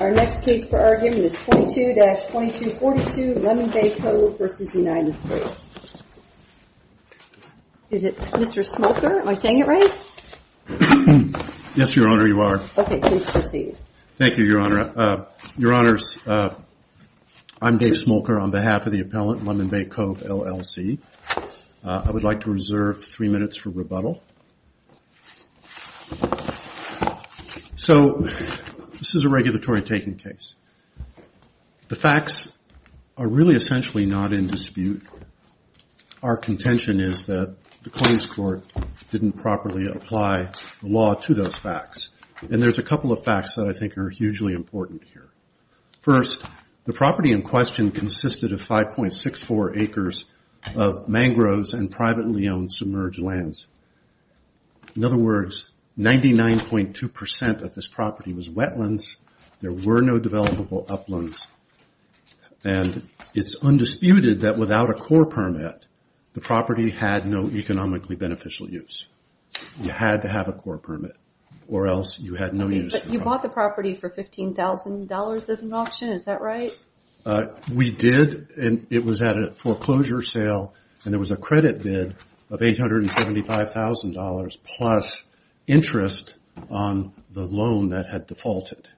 Our next case for argument is 22-2242, Lemon Bay Cove v. United States. Is it Mr. Smolker? Am I saying it right? Yes, Your Honor, you are. Okay, please proceed. Thank you, Your Honor. Your Honors, I'm Dave Smolker on behalf of the appellant, Lemon Bay Cove, LLC. I would like to reserve three minutes for rebuttal. So this is a regulatory taking case. The facts are really essentially not in dispute. Our contention is that the claims court didn't properly apply the law to those facts. And there's a couple of facts that I think are hugely important here. First, the property in question consisted of 5.64 acres of mangroves and privately owned submerged lands. In other words, 99.2% of this property was wetlands. There were no developable uplands. And it's undisputed that without a core permit, the property had no economically beneficial use. You had to have a core permit or else you had no use. But you bought the property for $15,000 at an auction, is that right? We did, and it was at a foreclosure sale. And there was a credit bid of $875,000 plus interest on the loan that had defaulted.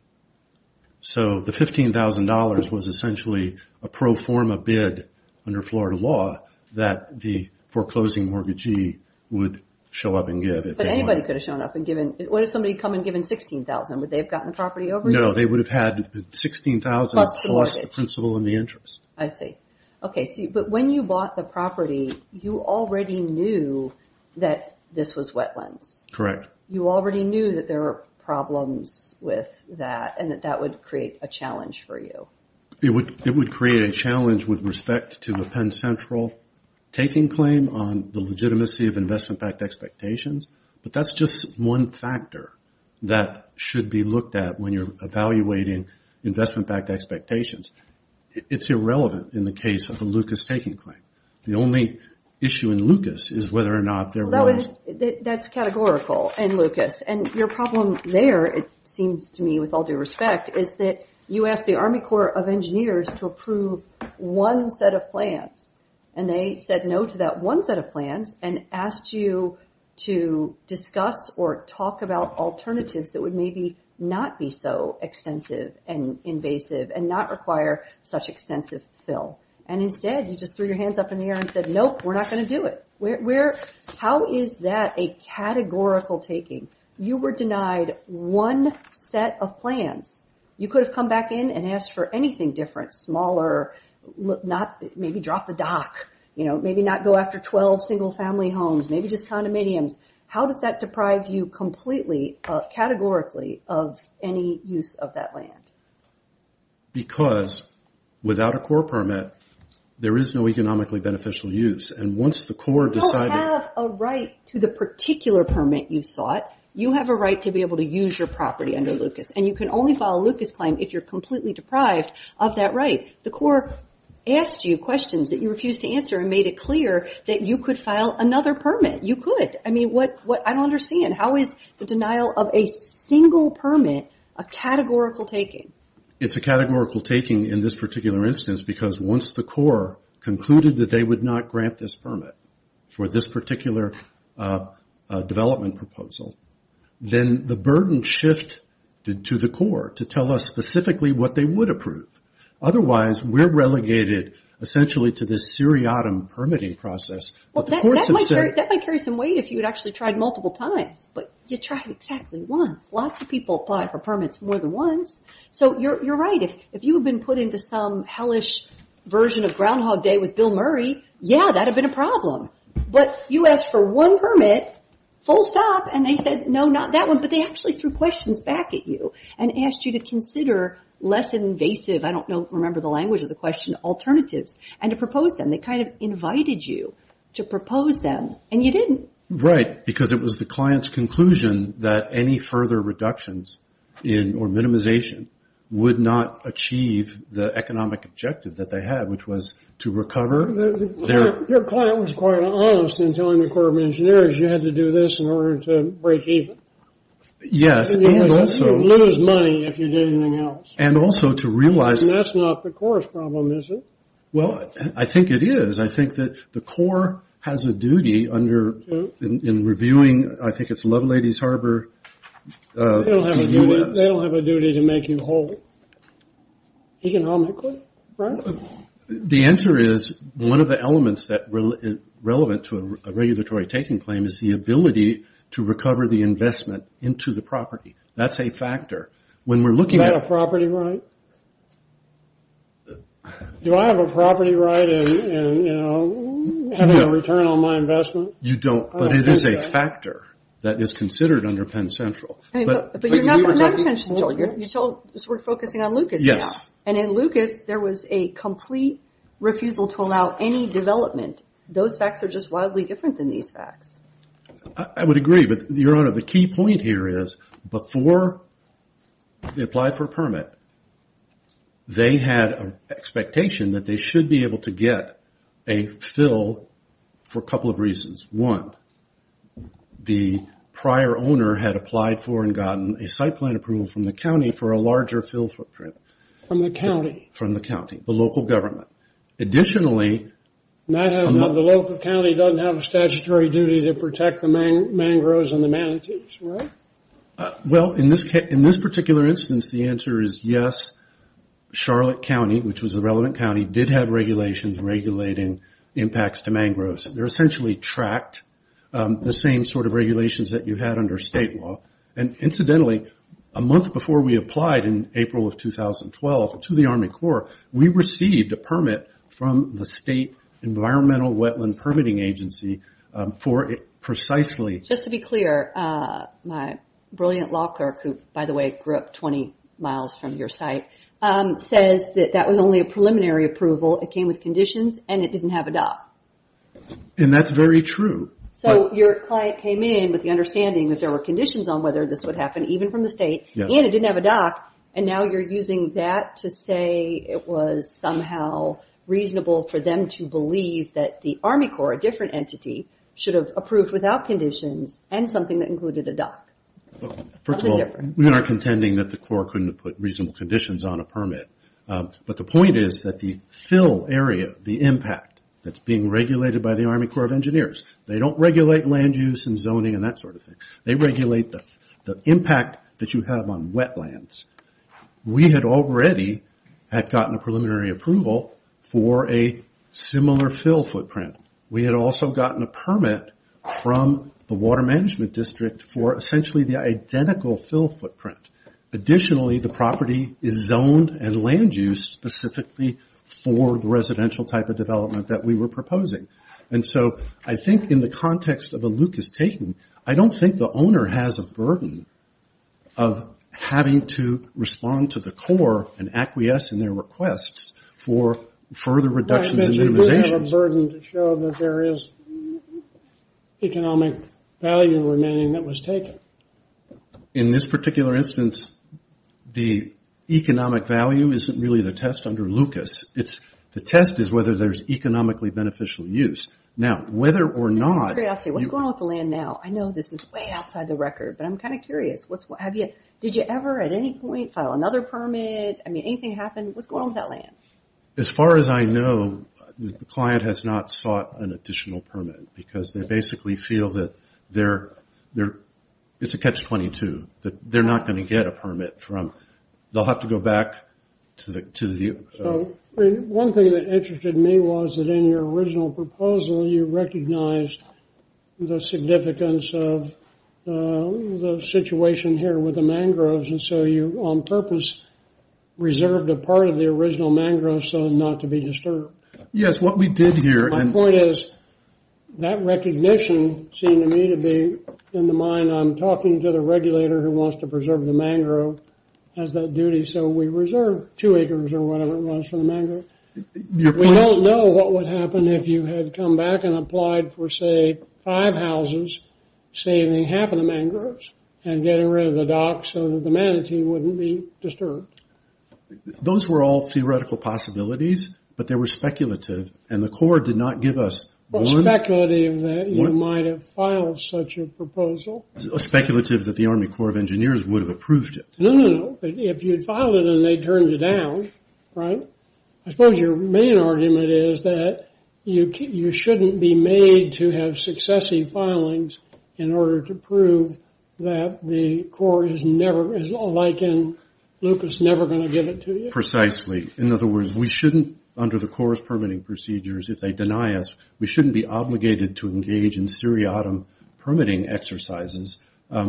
So the $15,000 was essentially a pro forma bid under Florida law that the foreclosing mortgagee would show up and give. But anybody could have shown up and given. What if somebody had come and given $16,000? Would they have gotten the property over? No, they would have had $16,000 plus the principal and the interest. I see. Okay, but when you bought the property, you already knew that this was wetlands. Correct. You already knew that there were problems with that and that that would create a challenge for you. It would create a challenge with respect to the Penn Central taking claim on the legitimacy of investment backed expectations. But that's just one factor that should be looked at when you're evaluating investment backed expectations. It's irrelevant in the case of a Lucas taking claim. The only issue in Lucas is whether or not there was. That's categorical in Lucas. And your problem there, it seems to me, with all due respect, is that you asked the Army Corps of Engineers to approve one set of plans. And they said no to that one set of plans and asked you to discuss or talk about alternatives that would maybe not be so extensive and invasive and not require such extensive fill. And instead, you just threw your hands up in the air and said, nope, we're not going to do it. How is that a categorical taking? You were denied one set of plans. You could have come back in and asked for anything different, smaller, maybe drop the dock, maybe not go after 12 single family homes, maybe just condominiums. How does that deprive you completely, categorically, of any use of that land? Because without a Corps permit, there is no economically beneficial use. And once the Corps decided... You don't have a right to the particular permit you sought. You have a right to be able to use your property under Lucas. And you can only file a Lucas claim if you're completely deprived of that right. The Corps asked you questions that you refused to answer and made it clear that you could file another permit. You could. I mean, I don't understand. How is the denial of a single permit a categorical taking? It's a categorical taking in this particular instance because once the Corps concluded that they would not grant this permit for this particular development proposal, then the burden shifted to the Corps to tell us specifically what they would approve. Otherwise, we're relegated, essentially, to this seriatim permitting process. That might carry some weight if you had actually tried multiple times. But you tried exactly once. Lots of people apply for permits more than once. So you're right. If you had been put into some hellish version of Groundhog Day with Bill Murray, yeah, that would have been a problem. But you asked for one permit, full stop, and they said, no, not that one. But they actually threw questions back at you and asked you to consider less invasive, I don't remember the language of the question, alternatives, and to propose them. They kind of invited you to propose them, and you didn't. Right, because it was the client's conclusion that any further reductions or minimization would not achieve the economic objective that they had, which was to recover their... Your client was quite honest in telling the Corps of Engineers you had to do this in order to break even. Yes, and also... You'd lose money if you did anything else. And also to realize... And that's not the Corps' problem, is it? Well, I think it is. I think that the Corps has a duty in reviewing, I think it's Love Ladies Harbor... They don't have a duty to make you whole. Economically, right? The answer is, one of the elements that is relevant to a regulatory taking claim is the ability to recover the investment into the property. That's a factor. Is that a property right? Do I have a property right in having a return on my investment? You don't, but it is a factor that is considered under Penn Central. But you're not in Penn Central. We're focusing on Lucas now. And in Lucas, there was a complete refusal to allow any development. Those facts are just wildly different than these facts. I would agree, but Your Honor, the key point here is before they applied for a permit, they had an expectation that they should be able to get a fill for a couple of reasons. One, the prior owner had applied for and gotten a site plan approval from the county for a larger fill footprint. From the county? From the county, the local government. The local county doesn't have a statutory duty to protect the mangroves and the manatees, right? Well, in this particular instance, the answer is yes. Charlotte County, which was a relevant county, did have regulations regulating impacts to mangroves. They essentially tracked the same sort of regulations that you had under state law. Incidentally, a month before we applied in April of 2012 to the Army Corps, we received a permit from the State Environmental Wetland Permitting Agency for precisely... Just to be clear, my brilliant law clerk, who, by the way, grew up 20 miles from your site, says that that was only a preliminary approval. It came with conditions, and it didn't have a dock. And that's very true. So your client came in with the understanding that there were conditions on whether this would happen, even from the state, and it didn't have a dock, and now you're using that to say it was somehow reasonable for them to believe that the Army Corps, and something that included a dock. First of all, we aren't contending that the Corps couldn't have put reasonable conditions on a permit. But the point is that the fill area, the impact that's being regulated by the Army Corps of Engineers, they don't regulate land use and zoning and that sort of thing. They regulate the impact that you have on wetlands. We had already gotten a preliminary approval for a similar fill footprint. We had also gotten a permit from the Water Management District for essentially the identical fill footprint. Additionally, the property is zoned and land used specifically for the residential type of development that we were proposing. And so I think in the context of a Lucas-Tayton, I don't think the owner has a burden of having to respond to the Corps and acquiesce in their requests for further reductions and minimizations. I don't have a burden to show that there is economic value remaining that was taken. In this particular instance, the economic value isn't really the test under Lucas. The test is whether there's economically beneficial use. Now, whether or not... What's going on with the land now? I know this is way outside the record, but I'm kind of curious. Did you ever at any point file another permit? I mean, anything happen? What's going on with that land? As far as I know, the client has not sought an additional permit because they basically feel that it's a catch-22. They're not going to get a permit from... They'll have to go back to the... One thing that interested me was that in your original proposal, you recognized the significance of the situation here with the mangroves, and so you, on purpose, reserved a part of the original mangrove so as not to be disturbed. Yes, what we did here... My point is, that recognition seemed to me to be in the mind. I'm talking to the regulator who wants to preserve the mangrove as that duty, so we reserved two acres or whatever it was for the mangrove. We don't know what would happen if you had come back and applied for, say, five houses, saving half of the mangroves and getting rid of the dock so that the manatee wouldn't be disturbed. Those were all theoretical possibilities, but they were speculative, and the Corps did not give us one... Speculative that you might have filed such a proposal. Speculative that the Army Corps of Engineers would have approved it. No, no, no. If you'd filed it and they turned it down, right? I suppose your main argument is that you shouldn't be made to have successive filings in order to prove that the Corps is never, like in Lucas, never going to give it to you. Precisely. In other words, we shouldn't under the Corps' permitting procedures, if they deny us, we shouldn't be obligated to engage in seriatim permitting exercises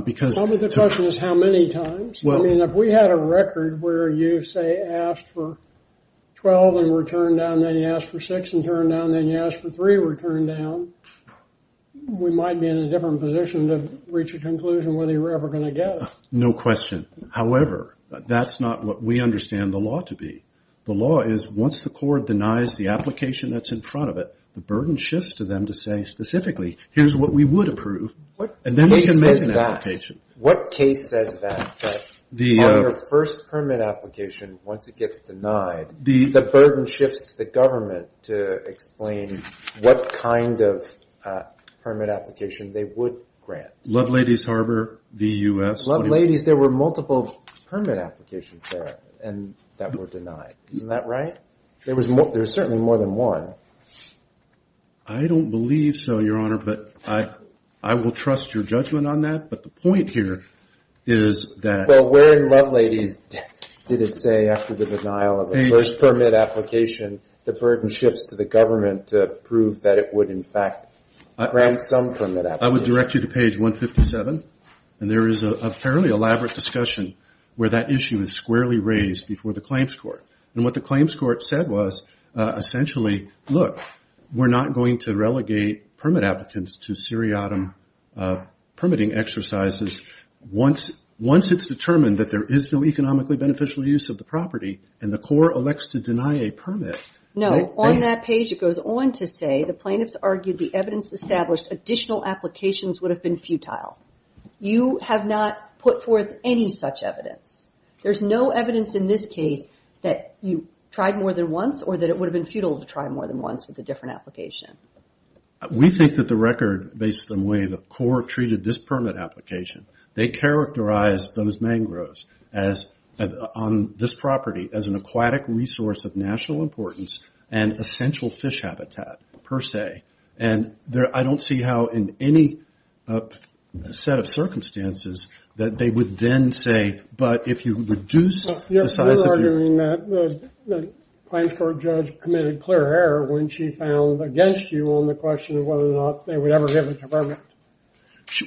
because... Tell me the question is how many times? I mean, if we had a record where you, say, asked for 12 and were turned down, then you asked for 6 and turned down, then you asked for 3 and were turned down, we might be in a different position to reach a conclusion whether you were ever going to get it. No question. However, that's not what we understand the law to be. The law is once the Corps denies the application that's in front of it, the burden shifts to them to say specifically, here's what we would approve, and then we can make an application. What case says that? What case says that, that on your first permit application, once it gets denied, the burden shifts to the government to explain what kind of permit application they would grant. Love Ladies Harbor v. U.S.? Love Ladies, there were multiple permit applications there that were denied. Isn't that right? There was certainly more than one. I don't believe so, Your Honor, but I will trust your judgment on that, but the point here is that... Well, where in Love Ladies did it say after the denial of the first permit application the burden shifts to the government to prove that it would in fact grant some permit application? I would direct you to page 157, and there is a fairly elaborate discussion where that issue is squarely raised before the claims court. What the claims court said was essentially, look, we're not going to relegate permit applicants to seriatim permitting exercises once it's determined that there is no economically beneficial use of the property and the court elects to deny a permit. No, on that page it goes on to say the plaintiffs argued the evidence established additional applications would have been futile. You have not put forth any such evidence. There's no evidence in this case that you tried more than once or that it would have been futile to try more than once with a different application. We think that the record, based on the way the court treated this permit application, they characterized those mangroves on this property as an aquatic resource of national importance and essential fish habitat, per se. And I don't see how in any set of circumstances that they would then say, but if you reduce the size of... You're arguing that the claims court judge committed clear error when she found against you on the question of whether or not they would ever give us a permit.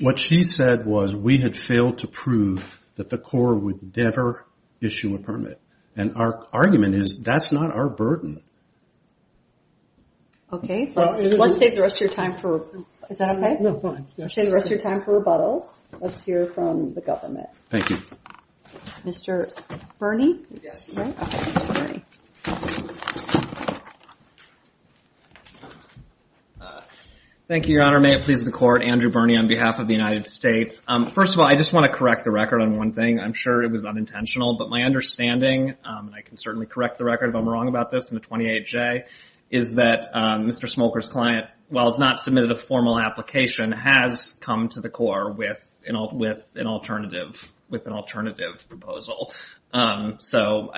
What she said was we had failed to prove that the court would never issue a permit. And our argument is that's not our burden. Okay, let's save the rest of your time for rebuttal. Is that okay? Let's save the rest of your time for rebuttal. Let's hear from the government. Thank you. Mr. Birney? Thank you, Your Honor. May it please the court, Andrew Birney on behalf of the United States. First of all, I just want to correct the record on one thing. I'm sure it was unintentional, but my understanding and I can certainly correct the record if I'm wrong about this in the 28J, is that Mr. Smoker's client while has not submitted a formal application has come to the court with an alternative proposal. So,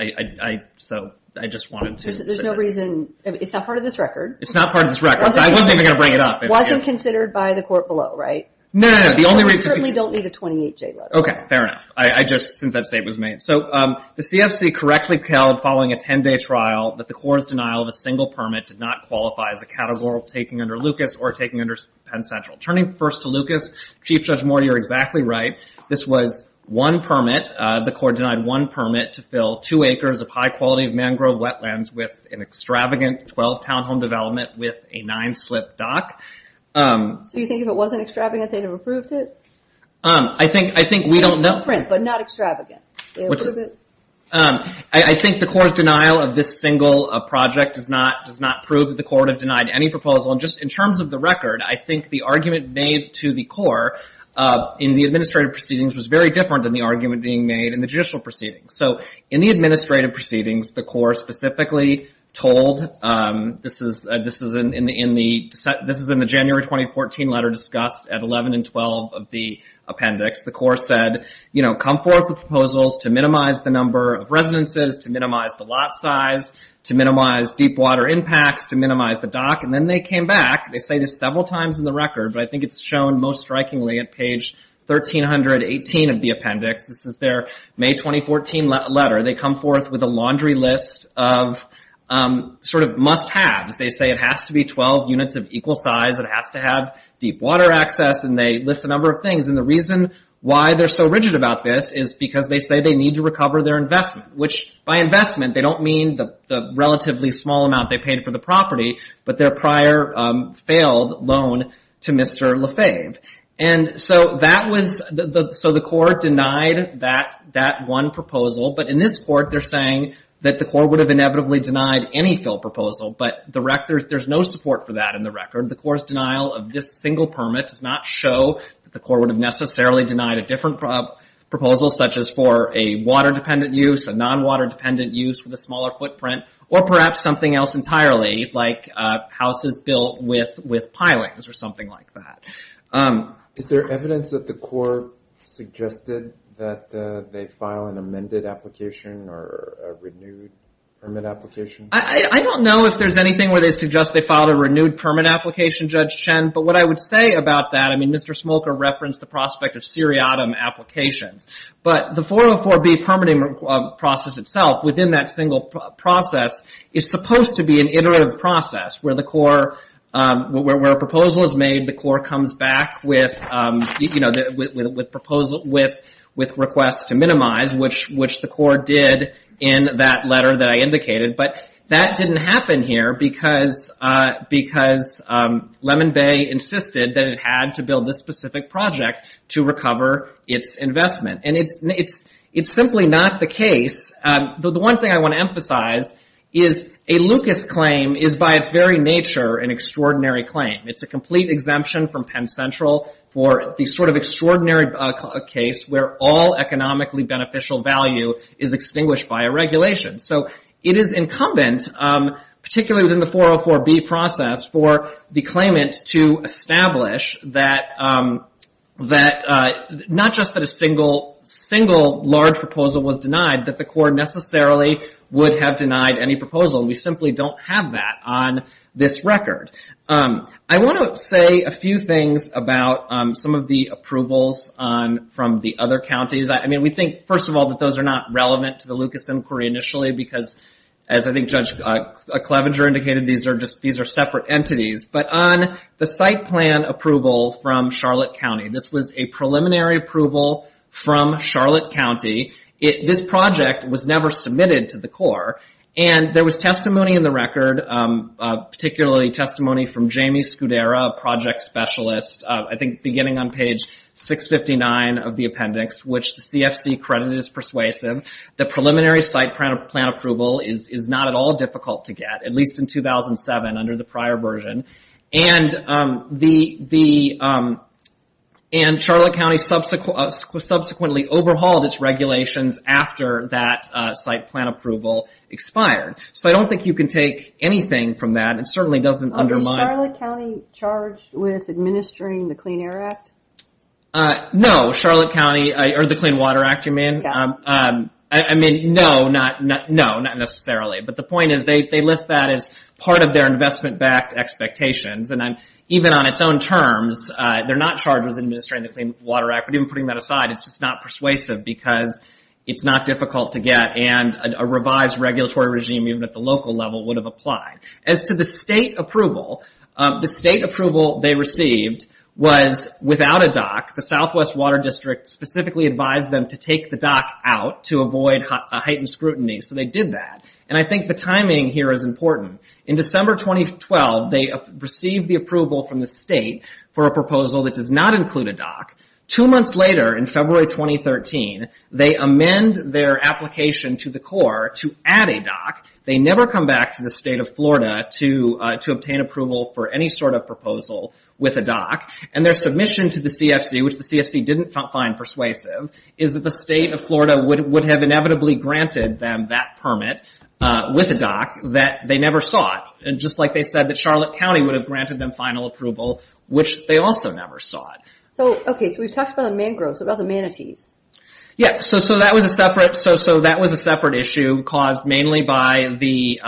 I just wanted to... There's no reason... It's not part of this record. It's not part of this record, so I wasn't even going to bring it up. It wasn't considered by the court below, right? No, no, no. We certainly don't need a 28J letter. Okay, fair enough. Since that statement was made. So, the CFC correctly held following a 10-day trial that the court's denial of a single permit did not qualify as a categorical taking under Lucas or taking under Penn Central. Turning first to Lucas, Chief Judge Moore, you're exactly right. This was one permit. The court denied one permit to fill two acres of high quality mangrove wetlands with an extravagant 12-town home development with a nine-slip dock. So, you think if it wasn't extravagant, they would have approved it? I think we don't know... But not extravagant. I think the court's denial of this single project does not prove that the court has denied any proposal. Just in terms of the record, I think the argument made to the court in the administrative proceedings was very different than the argument being made in the judicial proceedings. So, in the administrative proceedings, the court specifically told... This is in the January 2014 letter discussed at 11 and 12 of the appendix. The court said, you know, come forth with proposals to minimize the number of residences, to minimize the lot size, to minimize deep water impacts, to minimize the dock. And then they came back. They say this several times in the record, but I think it's shown most strikingly at page 1318 of the appendix. This is their May 2014 letter. They come forth with a laundry list of sort of must-haves. They say it has to be 12 units of equal size, it has to have deep water access, and they list a number of things. And the reason why they're so rigid about this is because they say they need to recover their investment. Which, by investment, they don't mean the relatively small amount they paid for the property, but their prior failed loan to Mr. Lefebvre. And so that was... So the court denied that one proposal. But in this court, they're saying that the court would have inevitably denied any fill proposal, but there's no support for that in the record. The court's denial of this single permit does not show that the court would have necessarily denied a different proposal, such as for a water-dependent use, a non-water-dependent use with a smaller footprint, or perhaps something else entirely, like houses built with pilings or something like that. Is there evidence that the court suggested that they file an amended application or a renewed permit application? I don't know if there's anything where they suggest they filed a renewed permit application, Judge Chen, but what I would say about that, I mean, Mr. Smolker referenced the prospect of seriatim applications. But the 404B permitting process itself, within that single process, is supposed to be an iterative process where the court where a proposal is made, the court comes back with requests to minimize, which the court did in that letter that I indicated. But that didn't happen here because Lemon Bay insisted that it had to build this specific project to recover its investment. And it's simply not the case. The one thing I want to emphasize is a Lucas claim is by its very nature an extraordinary claim. It's a complete exemption from Penn Central for the sort of extraordinary case where all economically beneficial value is extinguished by a regulation. So it is incumbent, particularly within the 404B process, for the claimant to establish that not just that a single large proposal was denied, that the court necessarily would have denied any proposal. We simply don't have that on this record. I want to say a few things about some of the approvals from the other counties. I mean, we think, first of all, that those are not relevant to the Lucas inquiry initially because, as I think Judge Clevenger indicated, these are separate entities. But on the site plan approval from Charlotte County, this was a preliminary approval from Charlotte County. This project was never submitted to the Corps. And there was testimony in the record, particularly testimony from Jamie Scudera, a project specialist, I think beginning on page 659 of the appendix, which the CFC credited as persuasive. The preliminary site plan approval is not at all difficult to get, at least in 2007 under the prior version. And Charlotte County subsequently overhauled its regulations after that site plan approval expired. So I don't think you can take anything from that. It certainly doesn't undermine... Was Charlotte County charged with administering the Clean Air Act? No. Charlotte County... Or the Clean Water Act, you mean? No, not necessarily. But the point is, they list that as part of their investment-backed expectations. And even on its own terms, they're not charged with administering the Clean Water Act. But even putting that aside, it's just not persuasive because it's not difficult to get and a revised regulatory regime, even at the local level, would have applied. As to the state approval, the state approval they received was without a DOC. The Southwest Water District specifically advised them to take the DOC out to avoid heightened scrutiny. So they did that. And I think the timing here is important. In December 2012, they received the approval from the state for a proposal that does not include a DOC. Two months later, in February 2013, they amend their application to the Corps to add a DOC. They never come back to the state of Florida to obtain approval for any sort of proposal with a DOC. And their submission to the CFC, which the CFC didn't find persuasive, is that the state of Florida would have inevitably granted them that permit with a DOC that they never sought. Just like they said that Charlotte County would have granted them final approval, which they also never sought. Okay, so we've talked about the mangroves. What about the manatees? Yeah, so that was a separate issue caused mainly by the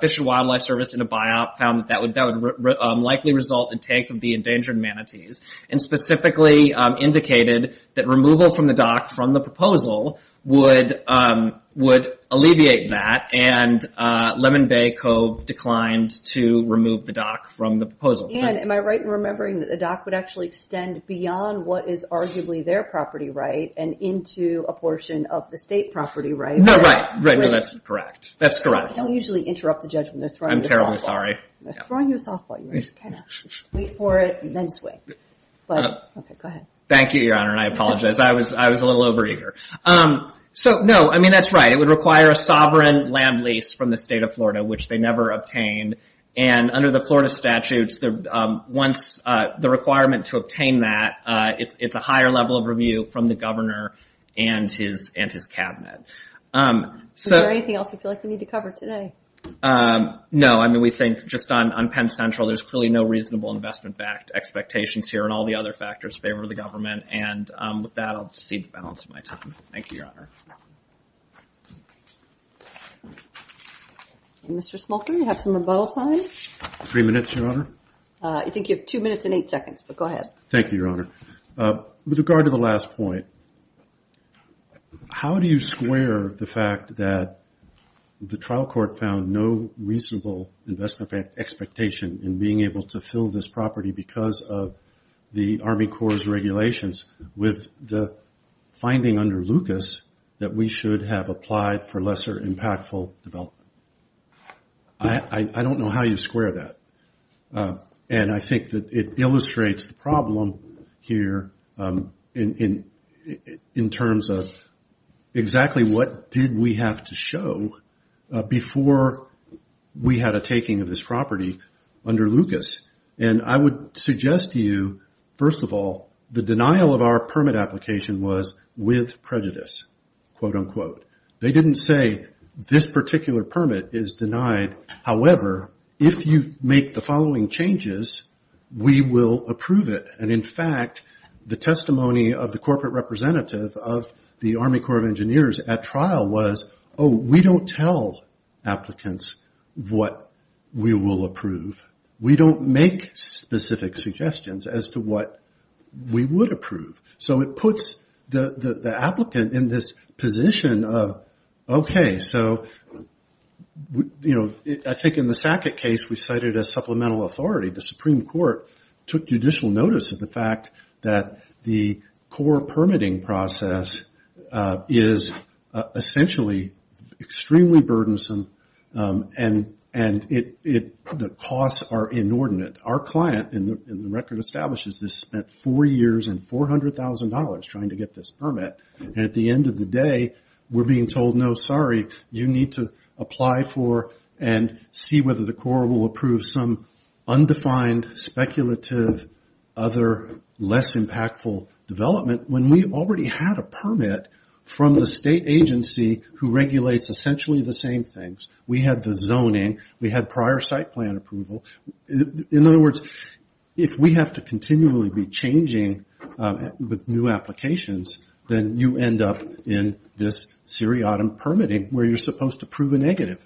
Fish and Wildlife Service in a buyout found that would likely result in take of the endangered manatees. And specifically indicated that removal from the DOC from the proposal would alleviate that. And Lemon Bay co-declined to remove the DOC from the proposal. And am I right in remembering that the DOC would actually extend beyond what is arguably their property right and into a portion of the state property right? No, right. That's correct. Don't usually interrupt the judgment. They're throwing you a softball. Wait for it and then swing. Thank you, Your Honor. I apologize. I was a little overeager. So, no, I mean that's right. It would require a sovereign land lease from the state of Florida, which they never obtained. And under the Florida statutes, once the requirement to obtain that, it's a higher level of review from the governor and his cabinet. Is there anything else you feel like we need to cover today? No, I mean we think just on Penn Central, there's clearly no reasonable investment backed expectations here and all the other factors in favor of the government. And with that, I'll just cede the balance of my time. Thank you, Your Honor. Mr. Smolker, you have some rebuttal time. Three minutes, Your Honor. I think you have two minutes and eight seconds, but go ahead. Thank you, Your Honor. With regard to the last point, how do you square the fact that the trial court found no reasonable investment expectation in being able to fill this property because of the Army Corps' regulations with the finding under Lucas that we should have applied for lesser impactful development? I don't know how you square that. And I think that it would be helpful to hear in terms of exactly what did we have to show before we had a taking of this property under Lucas. And I would suggest to you, first of all, the denial of our permit application was with prejudice, quote unquote. They didn't say this particular permit is denied. However, if you make the following changes, we will approve it. And in fact, the testimony of the corporate representative of the Army Corps of Engineers at trial was, oh, we don't tell applicants what we will approve. We don't make specific suggestions as to what we would approve. So it puts the applicant in this position of, okay, so, you know, I think in the Supreme Court took judicial notice of the fact that the Corps permitting process is essentially extremely burdensome and the costs are inordinate. Our client in the record establishes this spent four years and $400,000 trying to get this permit. And at the end of the day, we're being told, no, sorry, you need to apply for and see whether the Corps will approve some undefined speculative other less impactful development when we already had a permit from the state agency who regulates essentially the same things. We had the zoning. We had prior site plan approval. In other words, if we have to continually be changing with new applications, then you end up in this seriatim permitting where you're supposed to prove a negative.